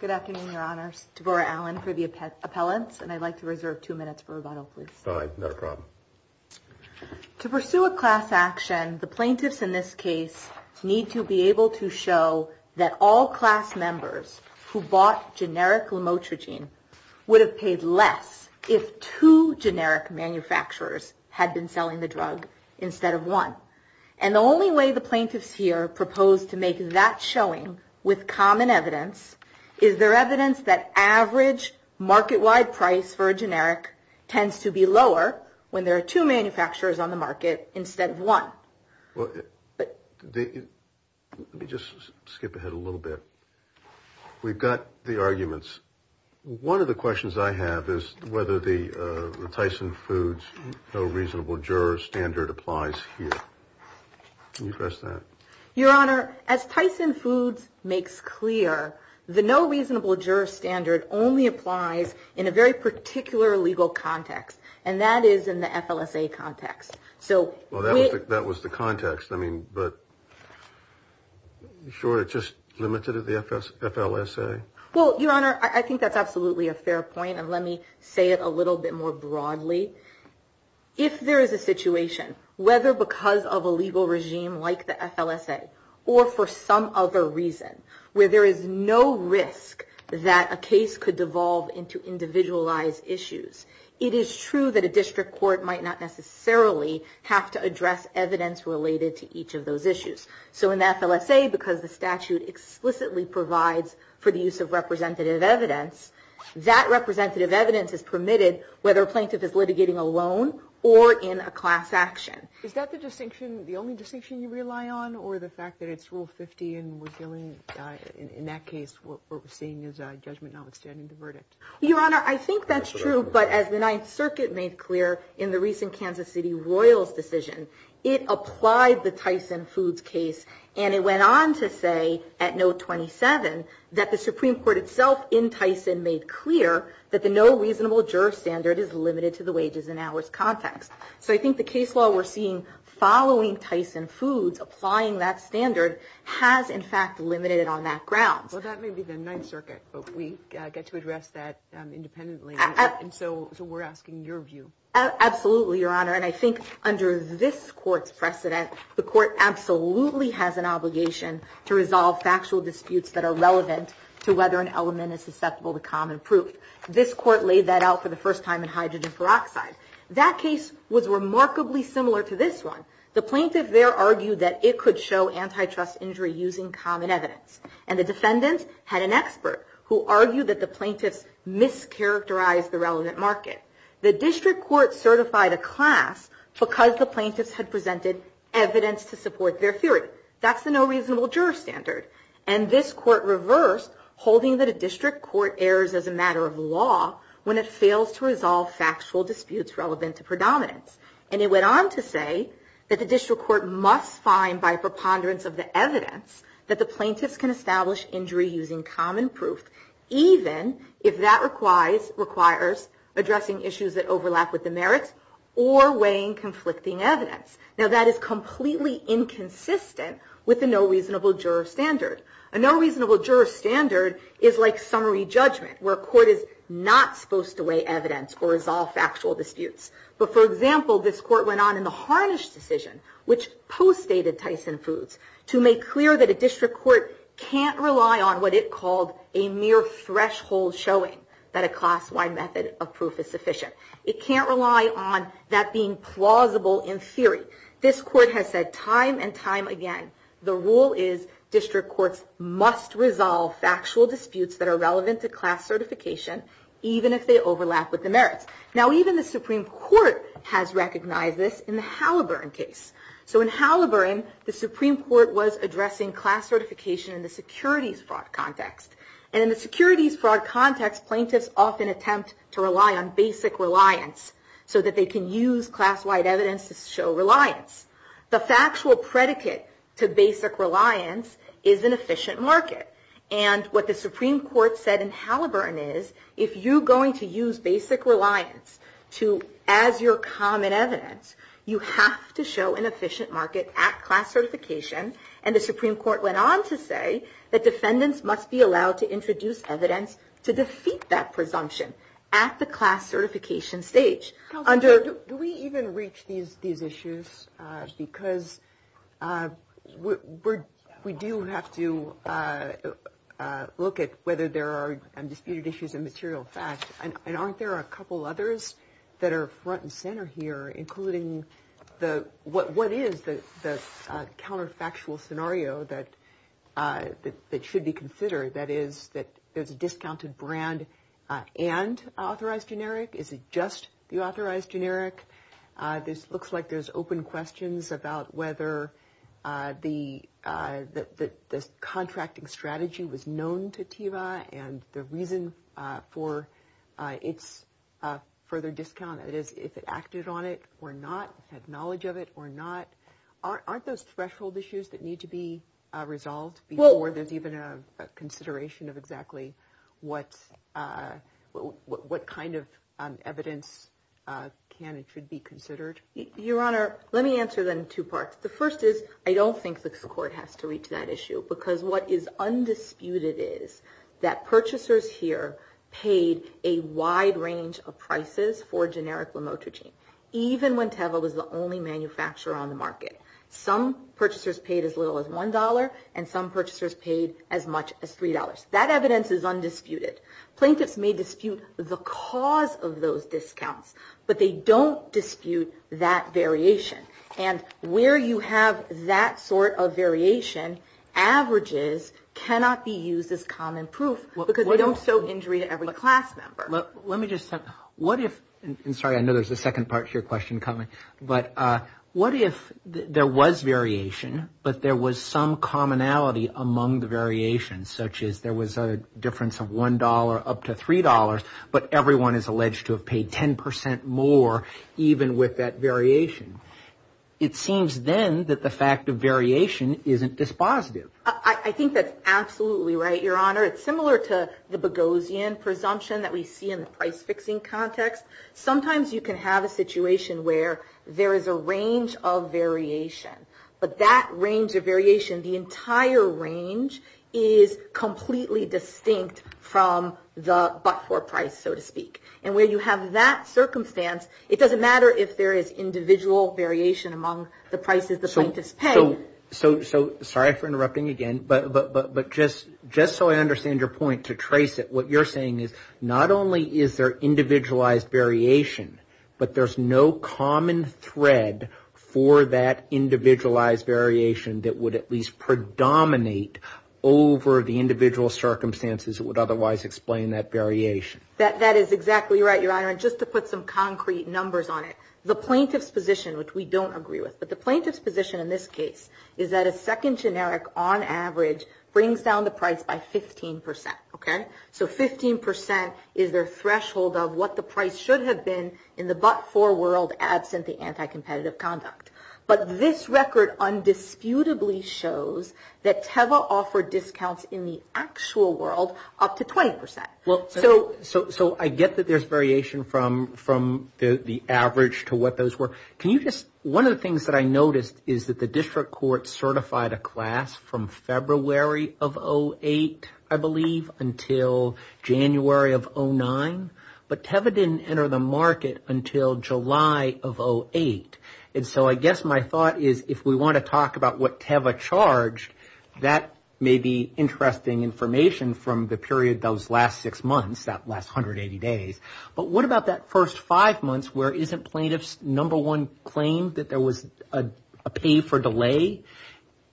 Good afternoon, Your Honors. Tavora Allen for the appellants, and I'd like to reserve two minutes for rebuttal, please. All right. No problem. To pursue a class action, the plaintiffs in this case need to be able to show that all class members who bought generic Lamotrigine would have paid less if two generic manufacturers had been selling the drug instead of one. And the only way the plaintiffs here propose to make that showing with common evidence is their evidence that average market-wide price for a generic tends to be lower when there are two manufacturers on the market instead of one. Let me just skip ahead a little bit. We've got the arguments. One of the questions I have is whether the Tyson Foods no reasonable juror standard applies here. Can you address that? Your Honor, as Tyson Foods makes clear, the no reasonable juror standard only applies in a very particular legal context, and that is in the FLSA context. Well, that was the context, but are you sure it's just limited to the FLSA? Well, Your Honor, I think that's absolutely a fair point, and let me say it a little bit more broadly. If there is a situation, whether because of a legal regime like the FLSA or for some other reason, where there is no risk that a case could devolve into individualized issues, it is true that a district court might not necessarily have to address evidence related to each of those issues. So in the FLSA, because the statute explicitly provides for the use of representative evidence, that representative evidence is permitted whether a plaintiff is litigating alone or in a class action. Is that the distinction, the only distinction you rely on, or the fact that it's Rule 50, and in that case what we're seeing is a judgment notwithstanding the verdict? Your Honor, I think that's true, but as the Ninth Circuit made clear in the recent Kansas City Royals decision, it applied the Tyson Foods case, and it went on to say at Note 27 that the Supreme Court itself in Tyson made clear that the no reasonable juror standard is limited to the wages and hours context. So I think the case law we're seeing following Tyson Foods, applying that standard, has in fact limited it on that ground. Well, that may be the Ninth Circuit, but we get to address that independently, and so we're asking your view. Absolutely, Your Honor, and I think under this Court's precedent, the Court absolutely has an obligation to resolve factual disputes that are relevant to whether an element is susceptible to common proof. This Court laid that out for the first time in hydrogen peroxide. That case was remarkably similar to this one. The plaintiff there argued that it could show antitrust injury using common evidence, and the defendants had an expert who argued that the plaintiffs mischaracterized the relevant market. The district court certified a class because the plaintiffs had presented evidence to support their theory. That's the no reasonable juror standard, and this Court reversed, holding that a district court errs as a matter of law when it fails to resolve factual disputes relevant to predominance, and it went on to say that the district court must find by preponderance of the evidence that the plaintiffs can establish injury using common proof, even if that requires addressing issues that overlap with the merits or weighing conflicting evidence. Now, that is completely inconsistent with the no reasonable juror standard. A no reasonable juror standard is like summary judgment, where a court is not supposed to weigh evidence or resolve factual disputes. But, for example, this court went on in the Harnish decision, which postdated Tyson Foods, to make clear that a district court can't rely on what it called a mere threshold showing that a class-wide method of proof is sufficient. It can't rely on that being plausible in theory. This court has said time and time again, the rule is district courts must resolve factual disputes that are relevant to class certification, even if they overlap with the merits. Now, even the Supreme Court has recognized this in the Halliburton case. So in Halliburton, the Supreme Court was addressing class certification in the securities fraud context. And in the securities fraud context, plaintiffs often attempt to rely on basic reliance, so that they can use class-wide evidence to show reliance. The factual predicate to basic reliance is an efficient market. And what the Supreme Court said in Halliburton is, if you're going to use basic reliance as your common evidence, you have to show an efficient market at class certification. And the Supreme Court went on to say that defendants must be allowed to introduce evidence to defeat that presumption at the class certification stage. Do we even reach these issues? Because we do have to look at whether there are disputed issues in material fact. And aren't there a couple others that are front and center here, including what is the counterfactual scenario that should be considered? That is, that there's a discounted brand and authorized generic? Is it just the authorized generic? This looks like there's open questions about whether the contracting strategy was known to TEVA, and the reason for its further discount, that is, if it acted on it or not, had knowledge of it or not. Aren't those threshold issues that need to be resolved before there's even a consideration of exactly what kind of evidence can and should be considered? Your Honor, let me answer that in two parts. The first is, I don't think the court has to reach that issue, because what is undisputed is that purchasers here paid a wide range of prices for generic Lomotrigine, even when TEVA was the only manufacturer on the market. Some purchasers paid as little as $1, and some purchasers paid as much as $3. That evidence is undisputed. Plaintiffs may dispute the cause of those discounts, but they don't dispute that variation. And where you have that sort of variation, averages cannot be used as common proof, because they don't show injury to every class member. Your Honor, let me just say, what if, and sorry, I know there's a second part to your question coming, but what if there was variation, but there was some commonality among the variations, such as there was a difference of $1 up to $3, but everyone is alleged to have paid 10% more, even with that variation? It seems then that the fact of variation isn't dispositive. I think that's absolutely right, Your Honor. It's similar to the Boghossian presumption that we see in the price-fixing context. Sometimes you can have a situation where there is a range of variation, but that range of variation, the entire range is completely distinct from the but-for price, so to speak. And where you have that circumstance, it doesn't matter if there is individual variation among the prices the plaintiffs pay. Sorry for interrupting again, but just so I understand your point, to trace it, what you're saying is not only is there individualized variation, but there's no common thread for that individualized variation that would at least predominate over the individual circumstances that would otherwise explain that variation. That is exactly right, Your Honor. And just to put some concrete numbers on it, the plaintiff's position, which we don't agree with, but the plaintiff's position in this case is that a second generic on average brings down the price by 15 percent, okay? So 15 percent is their threshold of what the price should have been in the but-for world, absent the anti-competitive conduct. But this record undisputably shows that TEVA offered discounts in the actual world up to 20 percent. So I get that there's variation from the average to what those were. One of the things that I noticed is that the district court certified a class from February of 2008, I believe, until January of 2009. But TEVA didn't enter the market until July of 2008. And so I guess my thought is if we want to talk about what TEVA charged, that may be interesting information from the period those last six months, that last 180 days. But what about that first five months where isn't plaintiff's number one claim that there was a pay for delay?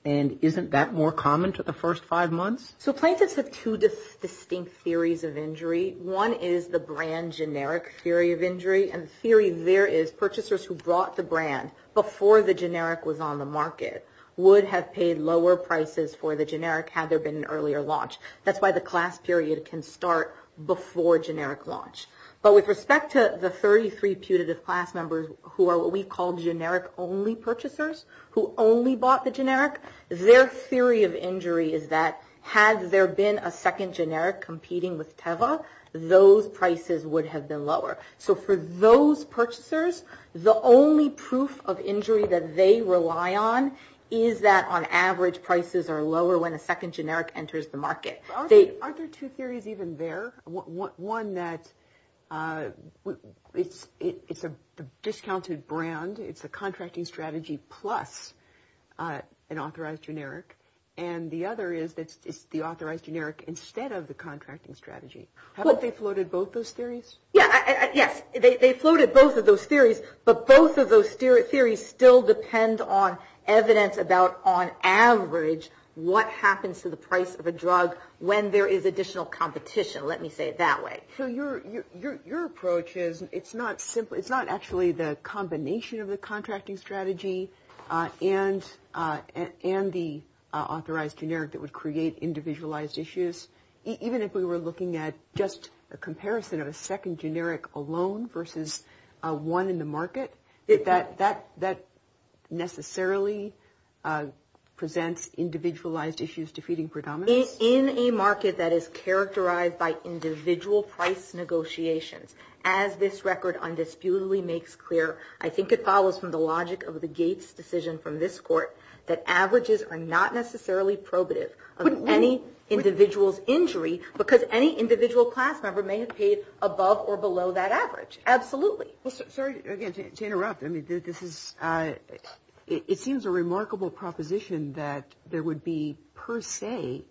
And isn't that more common to the first five months? So plaintiffs have two distinct theories of injury. One is the brand generic theory of injury. And the theory there is purchasers who brought the brand before the generic was on the market would have paid lower prices for the generic had there been an earlier launch. That's why the class period can start before generic launch. But with respect to the 33 putative class members who are what we call generic-only purchasers who only bought the generic, their theory of injury is that had there been a second generic competing with TEVA, those prices would have been lower. So for those purchasers, the only proof of injury that they rely on is that on average prices are lower when a second generic enters the market. Aren't there two theories even there? One that it's a discounted brand. It's a contracting strategy plus an authorized generic. And the other is that it's the authorized generic instead of the contracting strategy. Haven't they floated both those theories? Yes. They floated both of those theories. But both of those theories still depend on evidence about on average what happens to the price of a drug when there is additional competition. Let me say it that way. So your approach is it's not simple. It's not actually the combination of the contracting strategy and the authorized generic that would create individualized issues. Even if we were looking at just a comparison of a second generic alone versus one in the market, that necessarily presents individualized issues defeating predominance. In a market that is characterized by individual price negotiations, as this record undisputedly makes clear, I think it follows from the logic of the Gates decision from this court that averages are not necessarily probative of any individual's injury because any individual class member may have paid above or below that average. Absolutely. Sorry again to interrupt. I mean, this is it seems a remarkable proposition that there would be per se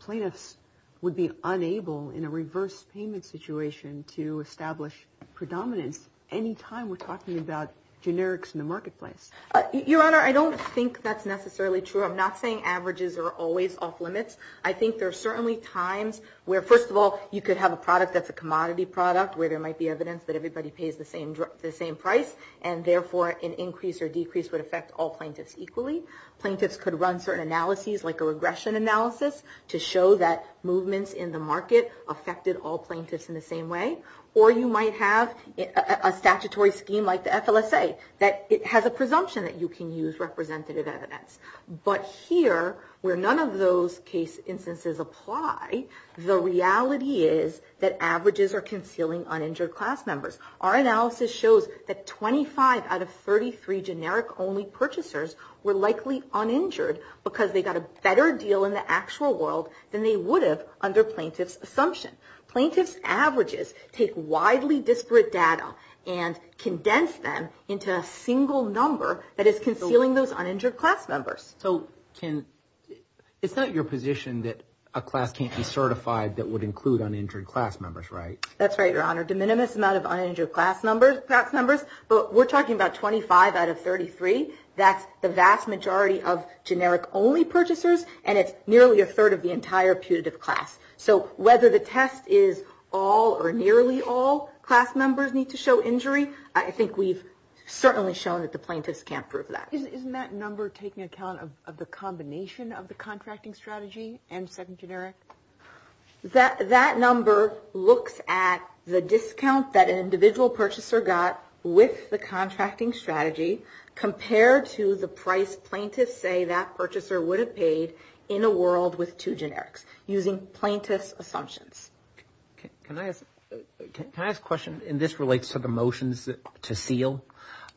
plaintiffs would be unable in a reverse payment situation to establish predominance any time we're talking about generics in the marketplace. Your Honor, I don't think that's necessarily true. I'm not saying averages are always off limits. I think there are certainly times where, first of all, you could have a product that's a commodity product where there might be evidence that everybody pays the same price, and therefore an increase or decrease would affect all plaintiffs equally. Plaintiffs could run certain analyses, like a regression analysis, to show that movements in the market affected all plaintiffs in the same way. Or you might have a statutory scheme like the FLSA that has a presumption that you can use representative evidence. But here, where none of those case instances apply, the reality is that averages are concealing uninjured class members. Our analysis shows that 25 out of 33 generic-only purchasers were likely uninjured because they got a better deal in the actual world than they would have under plaintiffs' assumption. Plaintiffs' averages take widely disparate data and condense them into a single number that is concealing those uninjured class members. So, it's not your position that a class can't be certified that would include uninjured class members, right? That's right, Your Honor. De minimis amount of uninjured class numbers, but we're talking about 25 out of 33. That's the vast majority of generic-only purchasers, and it's nearly a third of the entire putative class. So, whether the test is all or nearly all class members need to show injury, I think we've certainly shown that the plaintiffs can't prove that. Isn't that number taking account of the combination of the contracting strategy and second generic? That number looks at the discount that an individual purchaser got with the contracting strategy compared to the price plaintiffs say that purchaser would have paid in a world with two generics using plaintiffs' assumptions. Can I ask a question? And this relates to the motions to seal.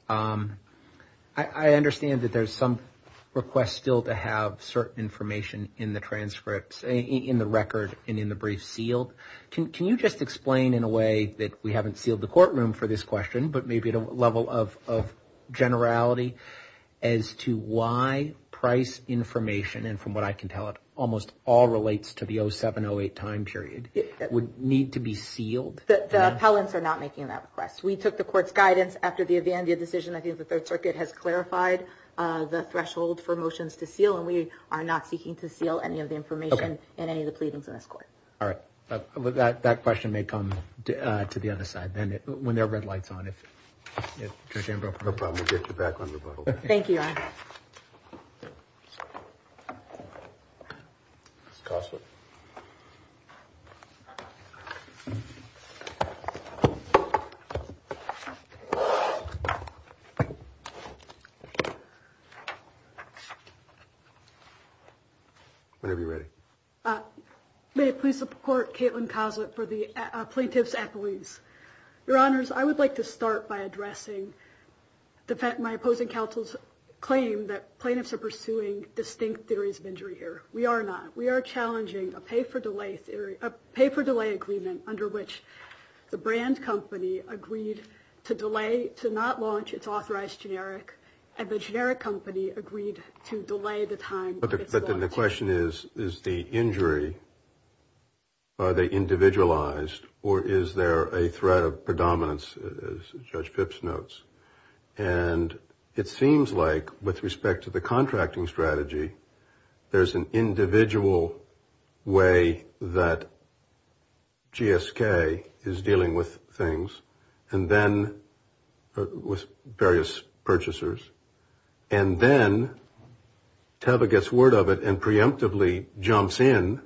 I understand that there's some request still to have certain information in the transcripts, in the record, and in the brief sealed. Can you just explain in a way that we haven't sealed the courtroom for this question, but maybe at a level of generality as to why price information, and from what I can tell it almost all relates to the 07-08 time period, would need to be sealed? The appellants are not making that request. We took the court's guidance after the Avandia decision. I think the Third Circuit has clarified the threshold for motions to seal, and we are not seeking to seal any of the information in any of the pleadings in this court. All right. That question may come to the other side when there are red lights on. No problem. We'll get you back on rebuttal. Thank you. Whenever you're ready. May I please support Kaitlin Coslet for the plaintiff's appellees? Your Honors, I would like to start by addressing my opposing counsel's claim that plaintiffs are pursuing distinct theories of injury here. We are not. We are challenging a pay-for-delay agreement under which the brand company agreed to delay, to not launch its authorized generic, and the generic company agreed to delay the time of its launch. But then the question is, is the injury, are they individualized, or is there a threat of predominance, as Judge Phipps notes? And it seems like, with respect to the contracting strategy, there's an individual way that GSK is dealing with things and then with various purchasers, and then Teva gets word of it and preemptively jumps in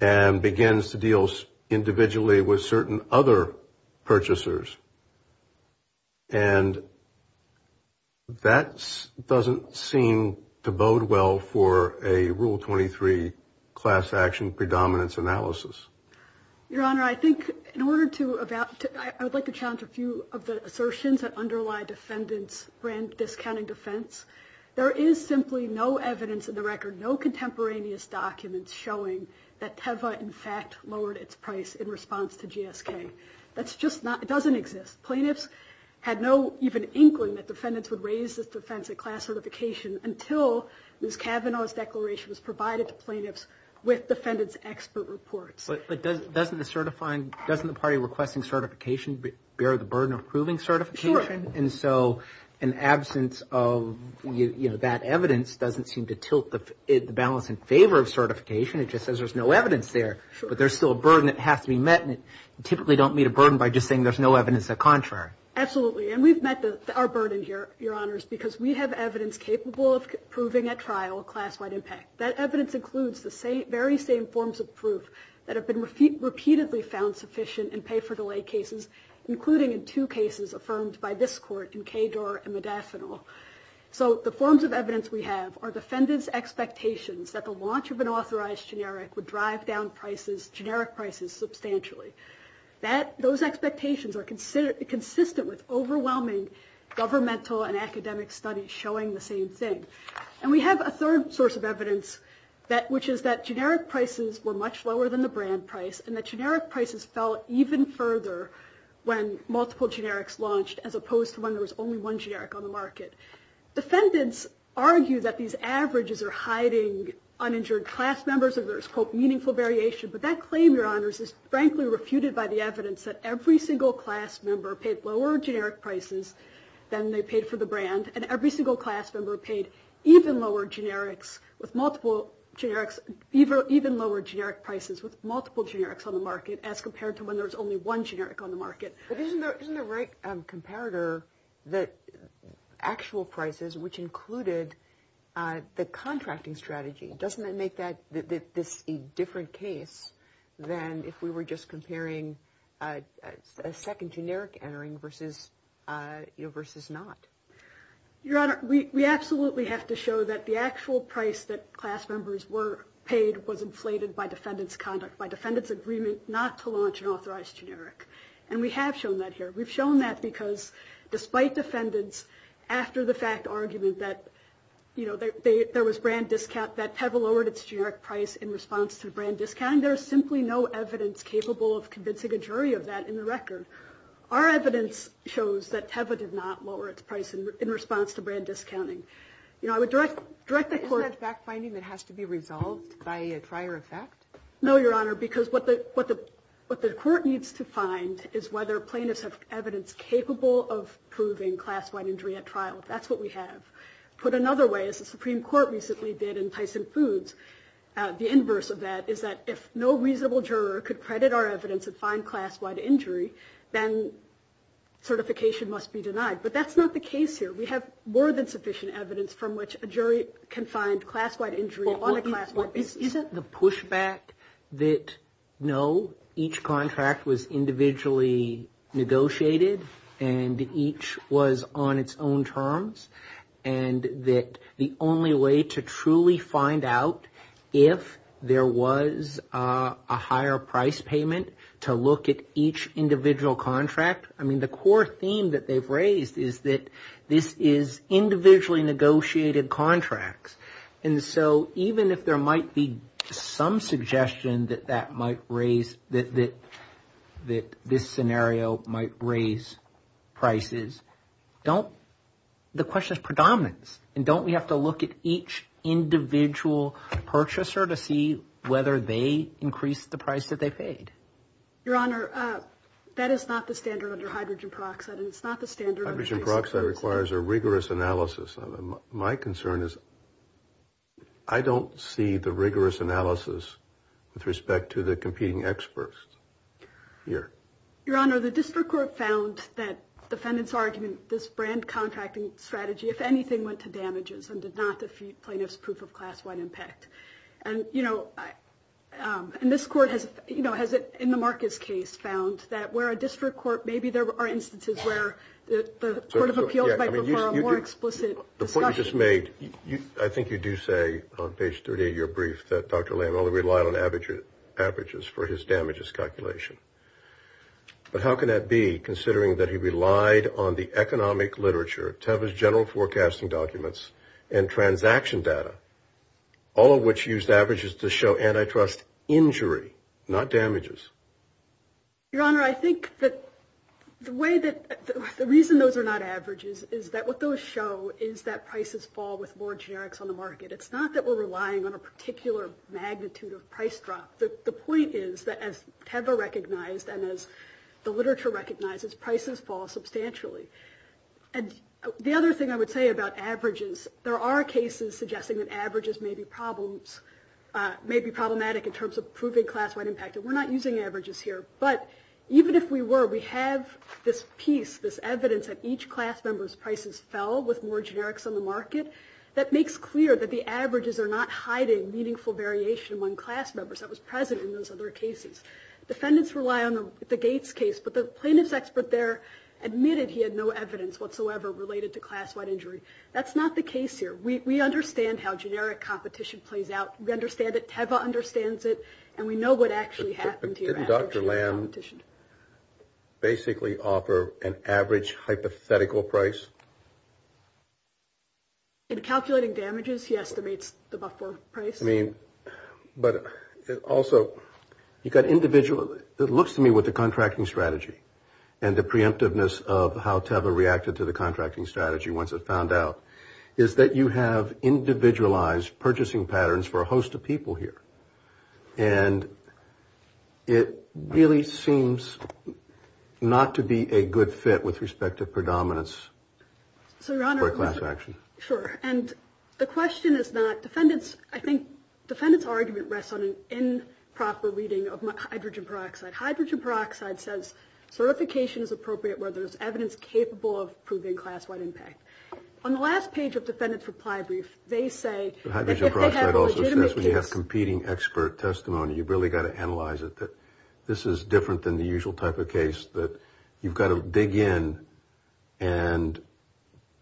and begins to deal individually with certain other purchasers. And that doesn't seem to bode well for a Rule 23 class action predominance analysis. Your Honor, I would like to challenge a few of the assertions that underlie defendants' brand discounting defense. There is simply no evidence in the record, no contemporaneous documents, showing that Teva, in fact, lowered its price in response to GSK. That just doesn't exist. Plaintiffs had no even inkling that defendants would raise this defense at class certification until Ms. Kavanaugh's declaration was provided to plaintiffs with defendants' expert reports. But doesn't the party requesting certification bear the burden of proving certification? Sure. And so an absence of that evidence doesn't seem to tilt the balance in favor of certification. It just says there's no evidence there. But there's still a burden that has to be met, and you typically don't meet a burden by just saying there's no evidence of the contrary. Absolutely. And we've met our burden here, Your Honors, because we have evidence capable of proving at trial a class-wide impact. That evidence includes the very same forms of proof that have been repeatedly found sufficient in pay-for-delay cases, including in two cases affirmed by this Court in Kedor and Modafinil. So the forms of evidence we have are defendants' expectations that the launch of an authorized generic would drive down generic prices substantially. Those expectations are consistent with overwhelming governmental and academic studies showing the same thing. And we have a third source of evidence, which is that generic prices were much lower than the brand price, and that generic prices fell even further when multiple generics launched, as opposed to when there was only one generic on the market. Defendants argue that these averages are hiding uninjured class members, so there's, quote, meaningful variation. But that claim, Your Honors, is frankly refuted by the evidence that every single class member paid lower generic prices than they paid for the brand, and every single class member paid even lower generic prices with multiple generics on the market, as compared to when there was only one generic on the market. But isn't there a right comparator that actual prices, which included the contracting strategy, doesn't that make this a different case than if we were just comparing a second generic entering versus not? Your Honor, we absolutely have to show that the actual price that class members were paid was inflated by defendants' agreement not to launch an authorized generic. And we have shown that here. We've shown that because, despite defendants' after-the-fact argument that there was brand discount, that Teva lowered its generic price in response to brand discounting. There is simply no evidence capable of convincing a jury of that in the record. Our evidence shows that Teva did not lower its price in response to brand discounting. Isn't that fact-finding that has to be resolved by a prior effect? No, Your Honor, because what the court needs to find is whether plaintiffs have evidence capable of proving class-wide injury at trial. That's what we have. Put another way, as the Supreme Court recently did in Tyson Foods, the inverse of that is that if no reasonable juror could credit our evidence and find class-wide injury, then certification must be denied. But that's not the case here. We have more than sufficient evidence from which a jury can find class-wide injury on a class-wide basis. Isn't the pushback that, no, each contract was individually negotiated and each was on its own terms, and that the only way to truly find out if there was a higher price payment to look at each individual contract? I mean, the core theme that they've raised is that this is individually negotiated contracts. And so even if there might be some suggestion that this scenario might raise prices, the question is predominance. And don't we have to look at each individual purchaser to see whether they increased the price that they paid? Your Honor, that is not the standard under hydrogen peroxide, and it's not the standard under Tyson Foods. Hydrogen peroxide requires a rigorous analysis. My concern is I don't see the rigorous analysis with respect to the competing experts here. Your Honor, the district court found that defendant's argument, this brand contracting strategy, if anything, went to damages and did not defeat plaintiff's proof of class-wide impact. And, you know, and this court has, you know, has in the Marcus case found that where a district court, maybe there are instances where the court of appeals might prefer a more explicit discussion. The point you just made, I think you do say on page 38 of your brief that Dr. Lamb only relied on averages for his damages calculation. But how can that be, considering that he relied on the economic literature, Teva's general forecasting documents, and transaction data, all of which used averages to show antitrust injury, not damages? Your Honor, I think that the way that the reason those are not averages is that what those show is that prices fall with more generics on the market. It's not that we're relying on a particular magnitude of price drop. The point is that as Teva recognized and as the literature recognizes, prices fall substantially. And the other thing I would say about averages, there are cases suggesting that averages may be problems, may be problematic in terms of proving class-wide impact. And we're not using averages here. But even if we were, we have this piece, this evidence that each class member's prices fell with more generics on the market. That makes clear that the averages are not hiding meaningful variation among class members that was present in those other cases. Defendants rely on the Gates case, but the plaintiff's expert there admitted he had no evidence whatsoever related to class-wide injury. That's not the case here. We understand how generic competition plays out. We understand that Teva understands it, and we know what actually happened here. But didn't Dr. Lamb basically offer an average hypothetical price? In calculating damages, he estimates the buffer price. I mean, but also you've got individual – it looks to me with the contracting strategy and the preemptiveness of how Teva reacted to the contracting strategy once it found out is that you have individualized purchasing patterns for a host of people here. And it really seems not to be a good fit with respect to predominance for class action. Sure. And the question is not defendants – I think defendants' argument rests on an improper reading of hydrogen peroxide. Hydrogen peroxide says certification is appropriate where there's evidence capable of proving class-wide impact. On the last page of defendants' reply brief, they say – Hydrogen peroxide also says when you have competing expert testimony, you've really got to analyze it, that this is different than the usual type of case, that you've got to dig in and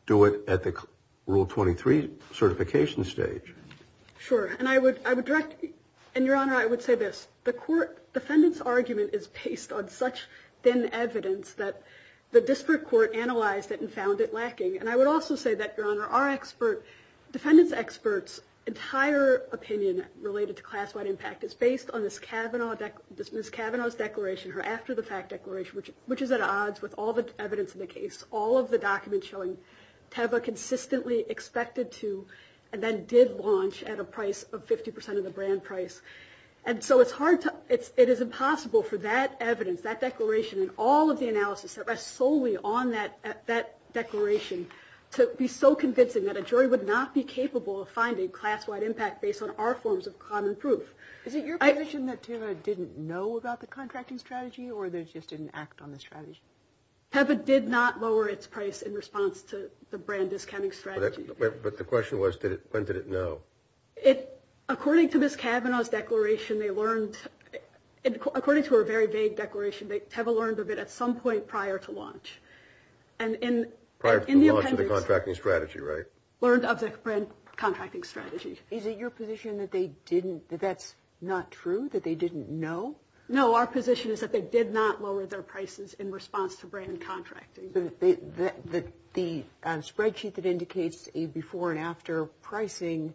do it at the Rule 23 certification stage. Sure. And I would direct – and, Your Honor, I would say this. The court defendants' argument is based on such thin evidence that the disparate court analyzed it and found it lacking. And I would also say that, Your Honor, our expert – defendants' experts' entire opinion related to class-wide impact is based on Ms. Kavanaugh's declaration, her after-the-fact declaration, which is at odds with all the evidence in the case. All of the documents showing Teva consistently expected to and then did launch at a price of 50 percent of the brand price. And so it's hard to – it is impossible for that evidence, that declaration, and all of the analysis that rests solely on that declaration, to be so convincing that a jury would not be capable of finding class-wide impact based on our forms of common proof. Is it your position that Teva didn't know about the contracting strategy or that she just didn't act on the strategy? Teva did not lower its price in response to the brand discounting strategy. But the question was, when did it know? According to Ms. Kavanaugh's declaration, they learned – according to her very vague declaration, they – Teva learned of it at some point prior to launch. And in the appendix – Prior to the launch of the contracting strategy, right? Learned of the brand contracting strategy. Is it your position that they didn't – that that's not true, that they didn't know? No, our position is that they did not lower their prices in response to brand contracting. The spreadsheet that indicates a before-and-after pricing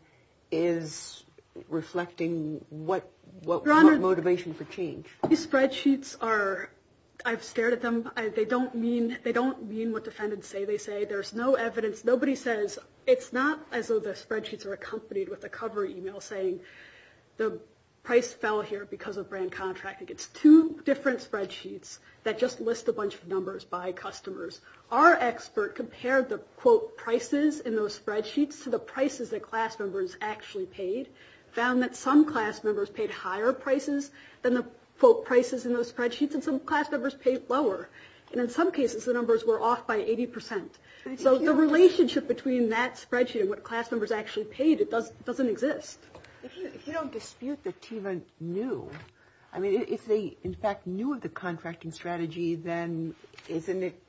is reflecting what – what motivation for change? These spreadsheets are – I've stared at them. They don't mean – they don't mean what defendants say they say. There's no evidence. Nobody says – it's not as though the spreadsheets are accompanied with a cover email saying, the price fell here because of brand contracting. It's two different spreadsheets that just list a bunch of numbers by customers. Our expert compared the, quote, prices in those spreadsheets to the prices that class members actually paid, found that some class members paid higher prices than the, quote, prices in those spreadsheets, and some class members paid lower. And in some cases, the numbers were off by 80 percent. So the relationship between that spreadsheet and what class members actually paid doesn't exist. If you don't dispute that Teva knew – I mean, if they, in fact, knew of the contracting strategy, then isn't it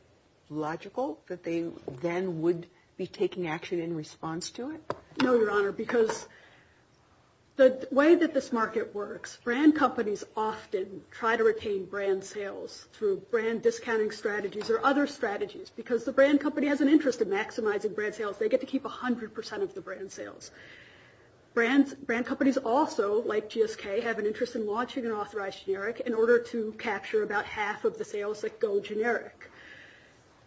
logical that they then would be taking action in response to it? No, Your Honor, because the way that this market works, brand companies often try to retain brand sales through brand discounting strategies or other strategies because the brand company has an interest in maximizing brand sales. They get to keep 100 percent of the brand sales. Brand companies also, like GSK, have an interest in launching an authorized generic in order to capture about half of the sales that go generic.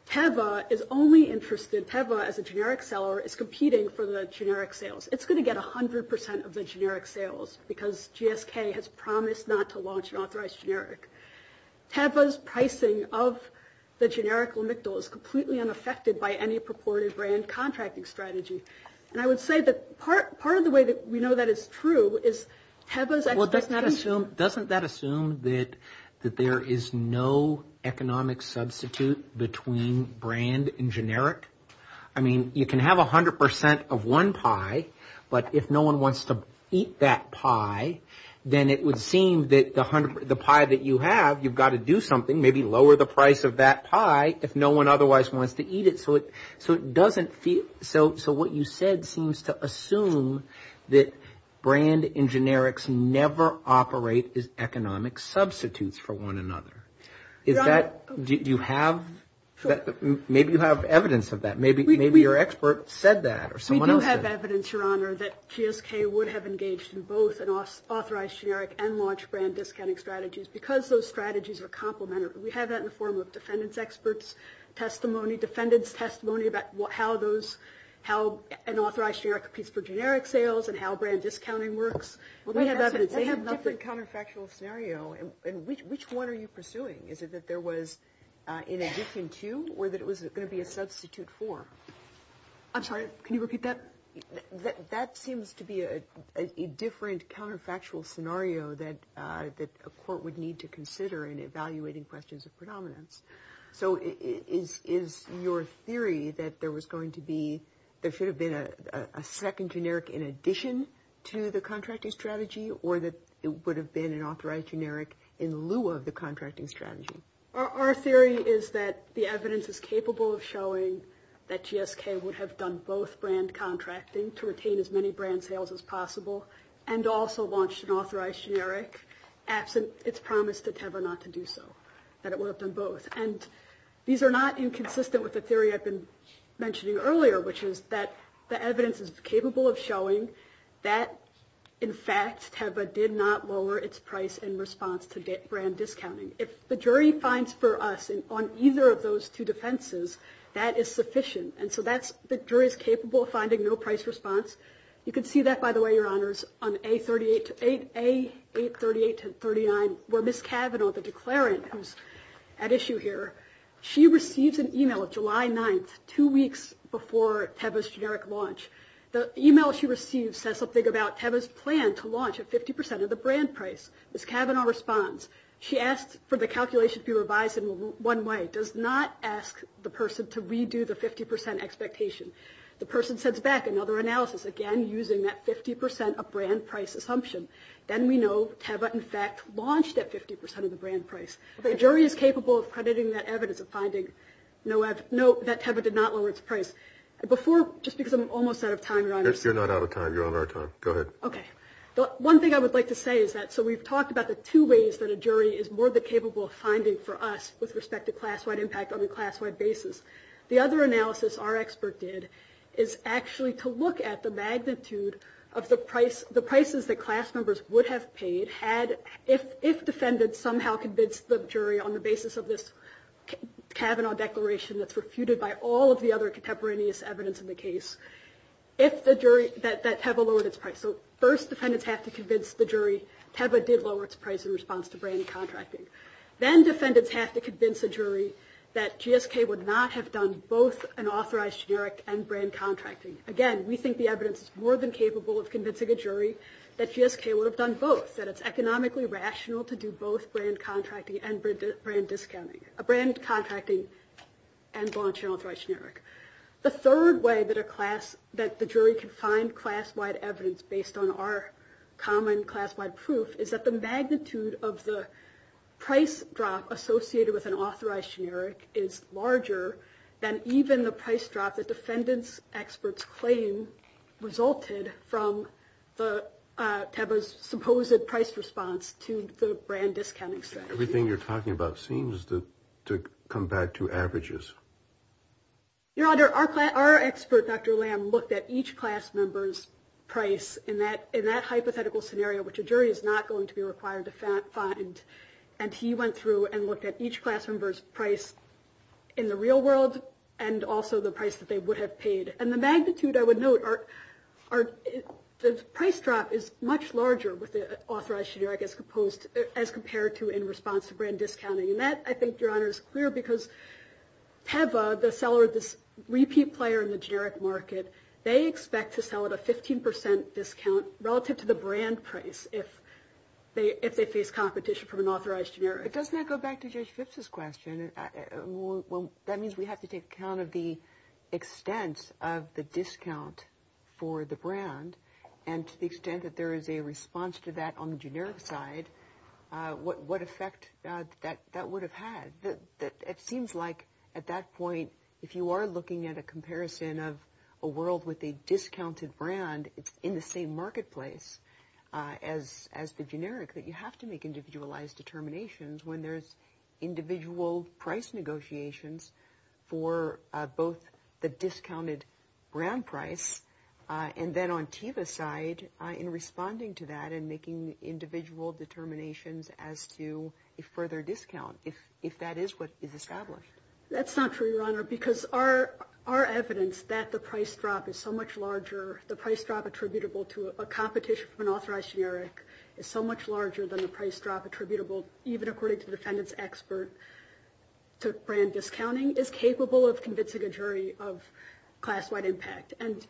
Teva is only interested – Teva, as a generic seller, is competing for the generic sales. It's going to get 100 percent of the generic sales because GSK has promised not to launch an authorized generic. Teva's pricing of the generic lamictal is completely unaffected by any purported brand contracting strategy. And I would say that part of the way that we know that is true is Teva's expectation – between brand and generic? I mean, you can have 100 percent of one pie, but if no one wants to eat that pie, then it would seem that the pie that you have, you've got to do something, maybe lower the price of that pie if no one otherwise wants to eat it. So it doesn't feel – so what you said seems to assume that brand and generics never operate as economic substitutes for one another. Is that – do you have – maybe you have evidence of that. Maybe your expert said that or someone else did. We do have evidence, Your Honor, that GSK would have engaged in both an authorized generic and launched brand discounting strategies because those strategies are complementary. We have that in the form of defendants' experts' testimony, defendants' testimony about how those – how an authorized generic competes for generic sales and how brand discounting works. We have evidence. They have a different counterfactual scenario, and which one are you pursuing? Is it that there was an addition to or that it was going to be a substitute for? I'm sorry, can you repeat that? That seems to be a different counterfactual scenario that a court would need to consider in evaluating questions of predominance. So is your theory that there was going to be – there should have been a second generic in addition to the contracting strategy or that it would have been an authorized generic in lieu of the contracting strategy? Our theory is that the evidence is capable of showing that GSK would have done both brand contracting to retain as many brand sales as possible and also launched an authorized generic absent its promise to Teva not to do so, that it would have done both. And these are not inconsistent with the theory I've been mentioning earlier, which is that the evidence is capable of showing that, in fact, Teva did not lower its price in response to brand discounting. If the jury finds for us on either of those two defenses, that is sufficient. And so the jury is capable of finding no price response. You can see that, by the way, Your Honors, on A838-39 where Ms. Cavanaugh, the declarant who's at issue here, she receives an email July 9th, two weeks before Teva's generic launch. The email she receives says something about Teva's plan to launch at 50% of the brand price. Ms. Cavanaugh responds, she asks for the calculation to be revised in one way, does not ask the person to redo the 50% expectation. The person sends back another analysis, again, using that 50% of brand price assumption. Then we know Teva, in fact, launched at 50% of the brand price. The jury is capable of crediting that evidence of finding that Teva did not lower its price. Just because I'm almost out of time, Your Honors. You're not out of time. You're on our time. Go ahead. Okay. One thing I would like to say is that so we've talked about the two ways that a jury is more than capable of finding for us with respect to class-wide impact on a class-wide basis. The other analysis our expert did is actually to look at the magnitude of the prices that class members would have paid if defendants somehow convinced the jury on the basis of this Cavanaugh declaration that's refuted by all of the other contemporaneous evidence in the case that Teva lowered its price. So first defendants have to convince the jury Teva did lower its price in response to brand contracting. Then defendants have to convince a jury that GSK would not have done both an authorized generic and brand contracting. Again, we think the evidence is more than capable of convincing a jury that GSK would have done both, that it's economically rational to do both brand contracting and brand discounting, brand contracting and launch an authorized generic. The third way that a class, that the jury can find class-wide evidence based on our common class-wide proof is that the magnitude of the price drop associated with an authorized generic is larger than even the price drop that defendants' experts claim resulted from Teva's supposed price response to the brand discounting set. Everything you're talking about seems to come back to averages. Your Honor, our expert, Dr. Lamb, looked at each class member's price in that hypothetical scenario, which a jury is not going to be required to find, and he went through and looked at each class member's price in the real world and also the price that they would have paid. And the magnitude, I would note, the price drop is much larger with the authorized generic as compared to in response to brand discounting. And that, I think, Your Honor, is clear because Teva, the seller of this repeat player in the generic market, they expect to sell at a 15 percent discount relative to the brand price if they face competition from an authorized generic. But doesn't that go back to Judge Phipps' question? That means we have to take account of the extent of the discount for the brand, and to the extent that there is a response to that on the generic side, what effect that would have had. It seems like at that point, if you are looking at a comparison of a world with a discounted brand, and it's in the same marketplace as the generic, that you have to make individualized determinations when there's individual price negotiations for both the discounted brand price and then on Teva's side, in responding to that and making individual determinations as to a further discount, if that is what is established. That's not true, Your Honor, because our evidence that the price drop is so much larger, the price drop attributable to a competition from an authorized generic is so much larger than the price drop attributable, even according to the defendant's expert to brand discounting, is capable of convincing a jury of class-wide impact. And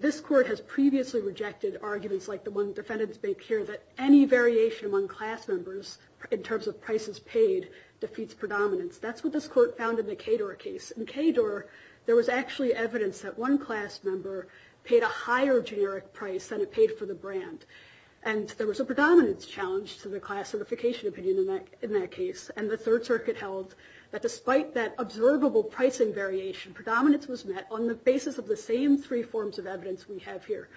this Court has previously rejected arguments like the one defendants make here, that any variation among class members in terms of prices paid defeats predominance. That's what this Court found in the Kador case. In Kador, there was actually evidence that one class member paid a higher generic price than it paid for the brand. And there was a predominance challenge to the class certification opinion in that case. And the Third Circuit held that despite that observable pricing variation, predominance was met on the basis of the same three forms of evidence we have here.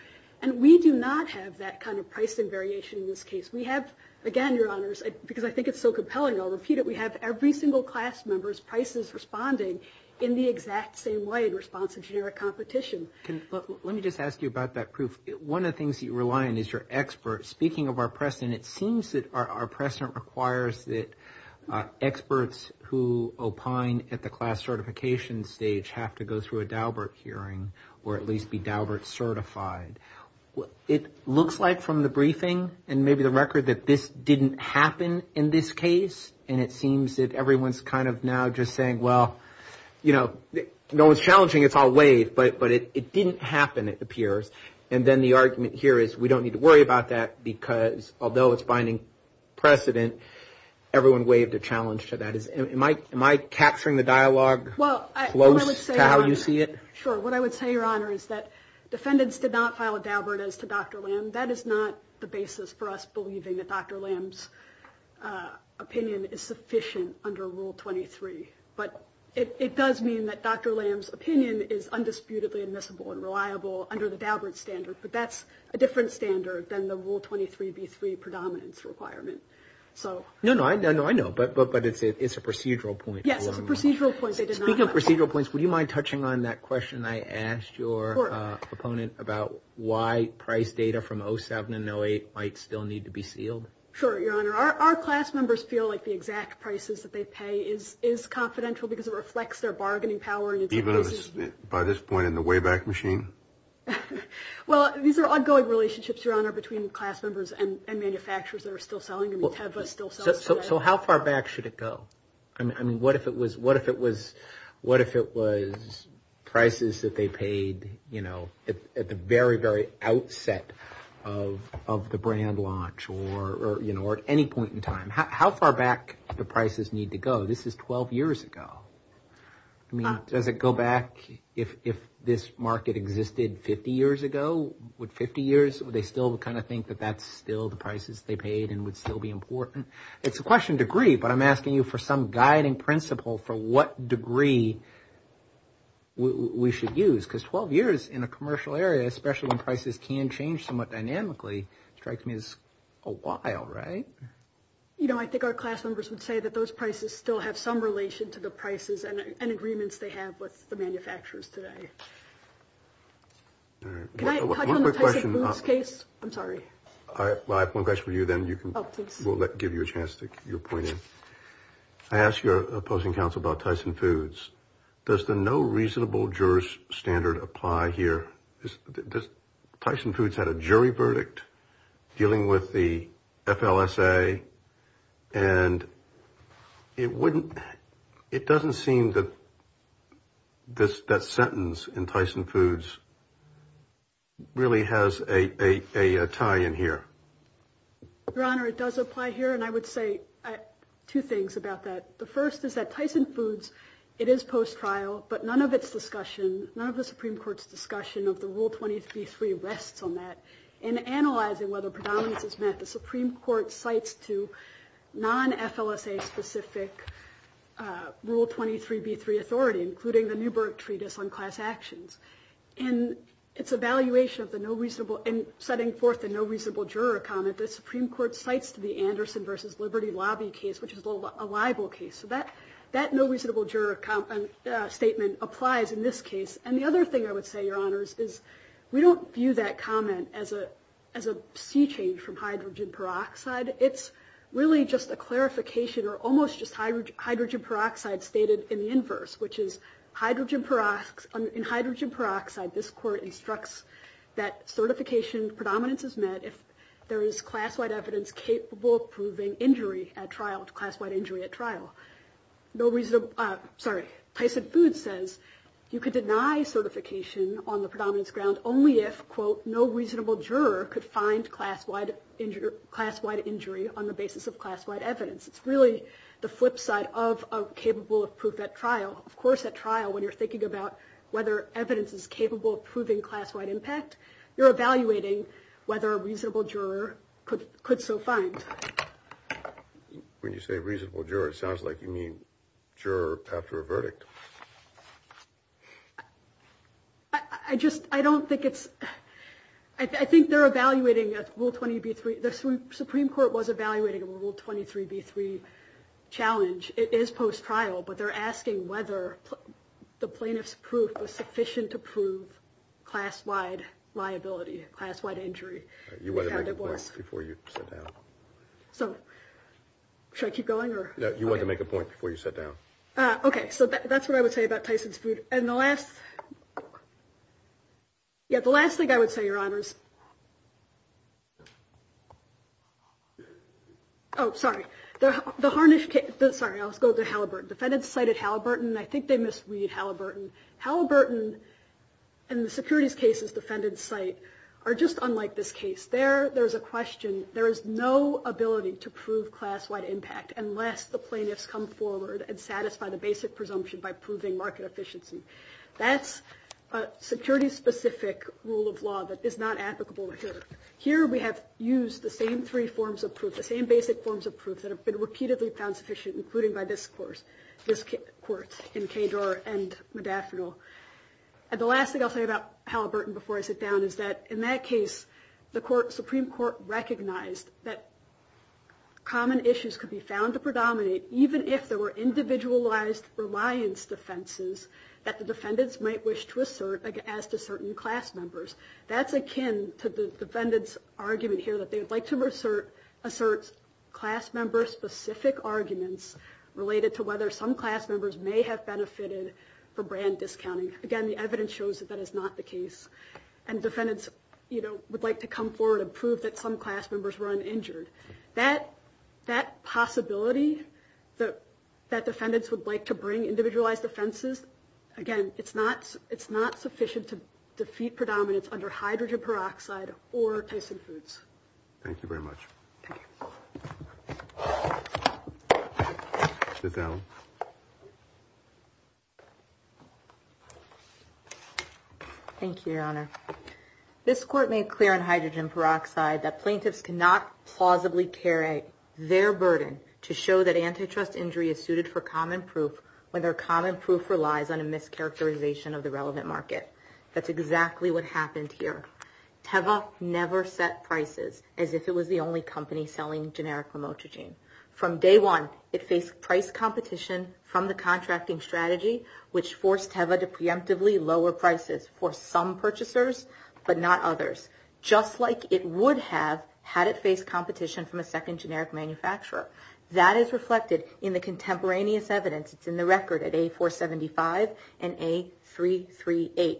And we do not have that kind of pricing variation in this case. We have, again, Your Honors, because I think it's so compelling, I'll repeat it, we have every single class member's prices responding in the exact same way in response to generic competition. Let me just ask you about that proof. One of the things you rely on is your expert. Speaking of our precedent, it seems that our precedent requires that experts who opine at the class certification stage have to go through a Daubert hearing or at least be Daubert certified. It looks like from the briefing and maybe the record that this didn't happen in this case, and it seems that everyone's kind of now just saying, well, you know, no one's challenging it, it's all waived. But it didn't happen, it appears. And then the argument here is we don't need to worry about that because although it's binding precedent, everyone waived a challenge to that. Am I capturing the dialogue close to how you see it? Sure. What I would say, Your Honor, is that defendants did not file a Daubert as to Dr. Lamb. That is not the basis for us believing that Dr. Lamb's opinion is sufficient under Rule 23. But it does mean that Dr. Lamb's opinion is undisputedly admissible and reliable under the Daubert standard, but that's a different standard than the Rule 23b3 predominance requirement. No, no, I know, but it's a procedural point. Yes, it's a procedural point. Speaking of procedural points, would you mind touching on that question I asked your opponent about why price data from 07 and 08 might still need to be sealed? Sure, Your Honor. Our class members feel like the exact prices that they pay is confidential because it reflects their bargaining power. Even by this point in the Wayback Machine? Well, these are ongoing relationships, Your Honor, between class members and manufacturers that are still selling them. So how far back should it go? I mean, what if it was prices that they paid at the very, very outset of the brand launch or at any point in time? How far back do prices need to go? This is 12 years ago. I mean, does it go back if this market existed 50 years ago? Would 50 years, would they still kind of think that that's still the prices they paid and would still be important? It's a question of degree, but I'm asking you for some guiding principle for what degree we should use. Because 12 years in a commercial area, especially when prices can change somewhat dynamically, strikes me as a while, right? You know, I think our class members would say that those prices still have some relation to the prices and agreements they have with the manufacturers today. Can I touch on the Tyson Foods case? I'm sorry. I have one question for you, then you can give you a chance to get your point in. I asked your opposing counsel about Tyson Foods. Does the no reasonable jurors standard apply here? Tyson Foods had a jury verdict dealing with the FLSA. And it wouldn't. It doesn't seem that this sentence in Tyson Foods really has a tie in here. Your Honor, it does apply here. And I would say two things about that. The first is that Tyson Foods, it is post-trial, but none of its discussion, none of the Supreme Court's discussion of the Rule 23 rests on that. In analyzing whether predominance is met, the Supreme Court cites to non-FLSA-specific Rule 23b3 authority, including the Newburgh Treatise on Class Actions. In its evaluation of the no reasonable, in setting forth the no reasonable juror comment, the Supreme Court cites to the Anderson v. Liberty Lobby case, which is a libel case. So that no reasonable juror statement applies in this case. And the other thing I would say, Your Honors, is we don't view that comment as a sea change from hydrogen peroxide. It's really just a clarification or almost just hydrogen peroxide stated in the inverse, which is hydrogen peroxide. This court instructs that certification predominance is met if there is class-wide evidence capable of proving injury at trial, class-wide injury at trial. Tyson Foods says you could deny certification on the predominance ground only if, quote, no reasonable juror could find class-wide injury on the basis of class-wide evidence. It's really the flip side of capable of proof at trial. Of course, at trial, when you're thinking about whether evidence is capable of proving class-wide impact, you're evaluating whether a reasonable juror could so find. When you say reasonable juror, it sounds like you mean juror after a verdict. I just I don't think it's I think they're evaluating a rule 20 B3. The Supreme Court was evaluating a rule 23 B3 challenge. It is post-trial, but they're asking whether the plaintiff's proof was sufficient to prove class-wide liability, class-wide injury. You want to make a point before you sit down? So should I keep going or you want to make a point before you sit down? OK, so that's what I would say about Tyson's food. And the last. Yet the last thing I would say, Your Honors. Oh, sorry. The the harnessed. Sorry, I'll go to Halliburton. Defendants cited Halliburton. I think they misread Halliburton. Halliburton and the securities cases defended site are just unlike this case there. There is a question. There is no ability to prove class-wide impact unless the plaintiffs come forward and satisfy the basic presumption by proving market efficiency. That's a security specific rule of law that is not applicable here. Here we have used the same three forms of proof, the same basic forms of proof that have been repeatedly found sufficient, including by this course. This court in Cajor and Modaffino. And the last thing I'll say about Halliburton before I sit down is that in that case, the court Supreme Court recognized that. Common issues could be found to predominate, even if there were individualized reliance defenses that the defendants might wish to assert as to certain class members. That's akin to the defendants argument here that they would like to assert assert class member specific arguments related to whether some class members may have benefited from brand discounting. Again, the evidence shows that that is not the case. And defendants would like to come forward and prove that some class members were uninjured. That that possibility that that defendants would like to bring individualized offenses. Again, it's not it's not sufficient to defeat predominance under hydrogen peroxide or Tyson foods. Thank you very much. Thank you, Your Honor. This court made clear on hydrogen peroxide that plaintiffs cannot plausibly carry their burden to show that antitrust injury is suited for common proof. When their common proof relies on a mischaracterization of the relevant market. That's exactly what happened here. Teva never set prices as if it was the only company selling generic remote regime from day one. It faced price competition from the contracting strategy, which forced Teva to preemptively lower prices for some purchasers, but not others. Just like it would have had it faced competition from a second generic manufacturer. That is reflected in the contemporaneous evidence. It's in the record at A475 and A338.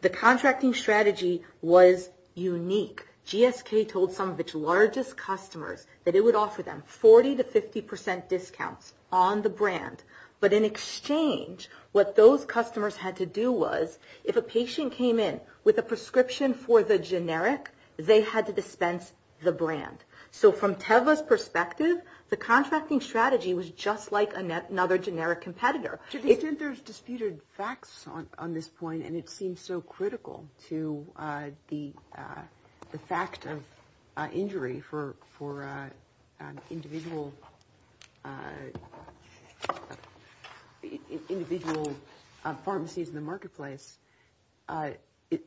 The contracting strategy was unique. GSK told some of its largest customers that it would offer them 40 to 50 percent discounts on the brand. But in exchange, what those customers had to do was, if a patient came in with a prescription for the generic, they had to dispense the brand. So from Teva's perspective, the contracting strategy was just like another generic competitor. There's disputed facts on this point, and it seems so critical to the fact of injury for individual pharmacies in the marketplace. Are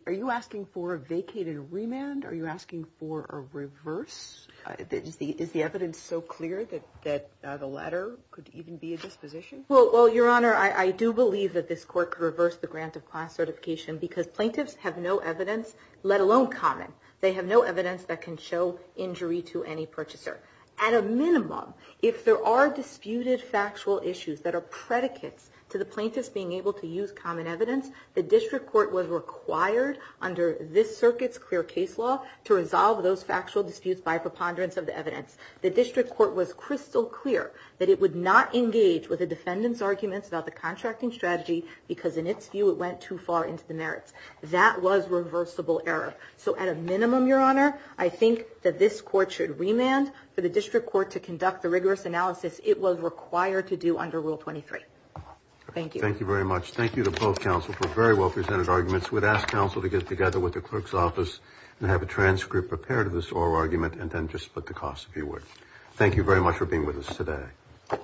you asking for a vacated remand? Are you asking for a reverse? Is the evidence so clear that the latter could even be a disposition? Well, Your Honor, I do believe that this court could reverse the grant of class certification because plaintiffs have no evidence, let alone common. They have no evidence that can show injury to any purchaser. At a minimum, if there are disputed factual issues that are predicates to the plaintiffs being able to use common evidence, the district court was required under this circuit's clear case law to resolve those factual disputes by preponderance of the evidence. The district court was crystal clear that it would not engage with the defendant's arguments about the contracting strategy because, in its view, it went too far into the merits. That was reversible error. So at a minimum, Your Honor, I think that this court should remand. For the district court to conduct the rigorous analysis, it was required to do under Rule 23. Thank you. Thank you very much. Thank you to both counsel for very well-presented arguments. We'd ask counsel to get together with the clerk's office and have a transcript prepared of this oral argument and then just split the costs, if you would. Thank you very much for being with us today. All right.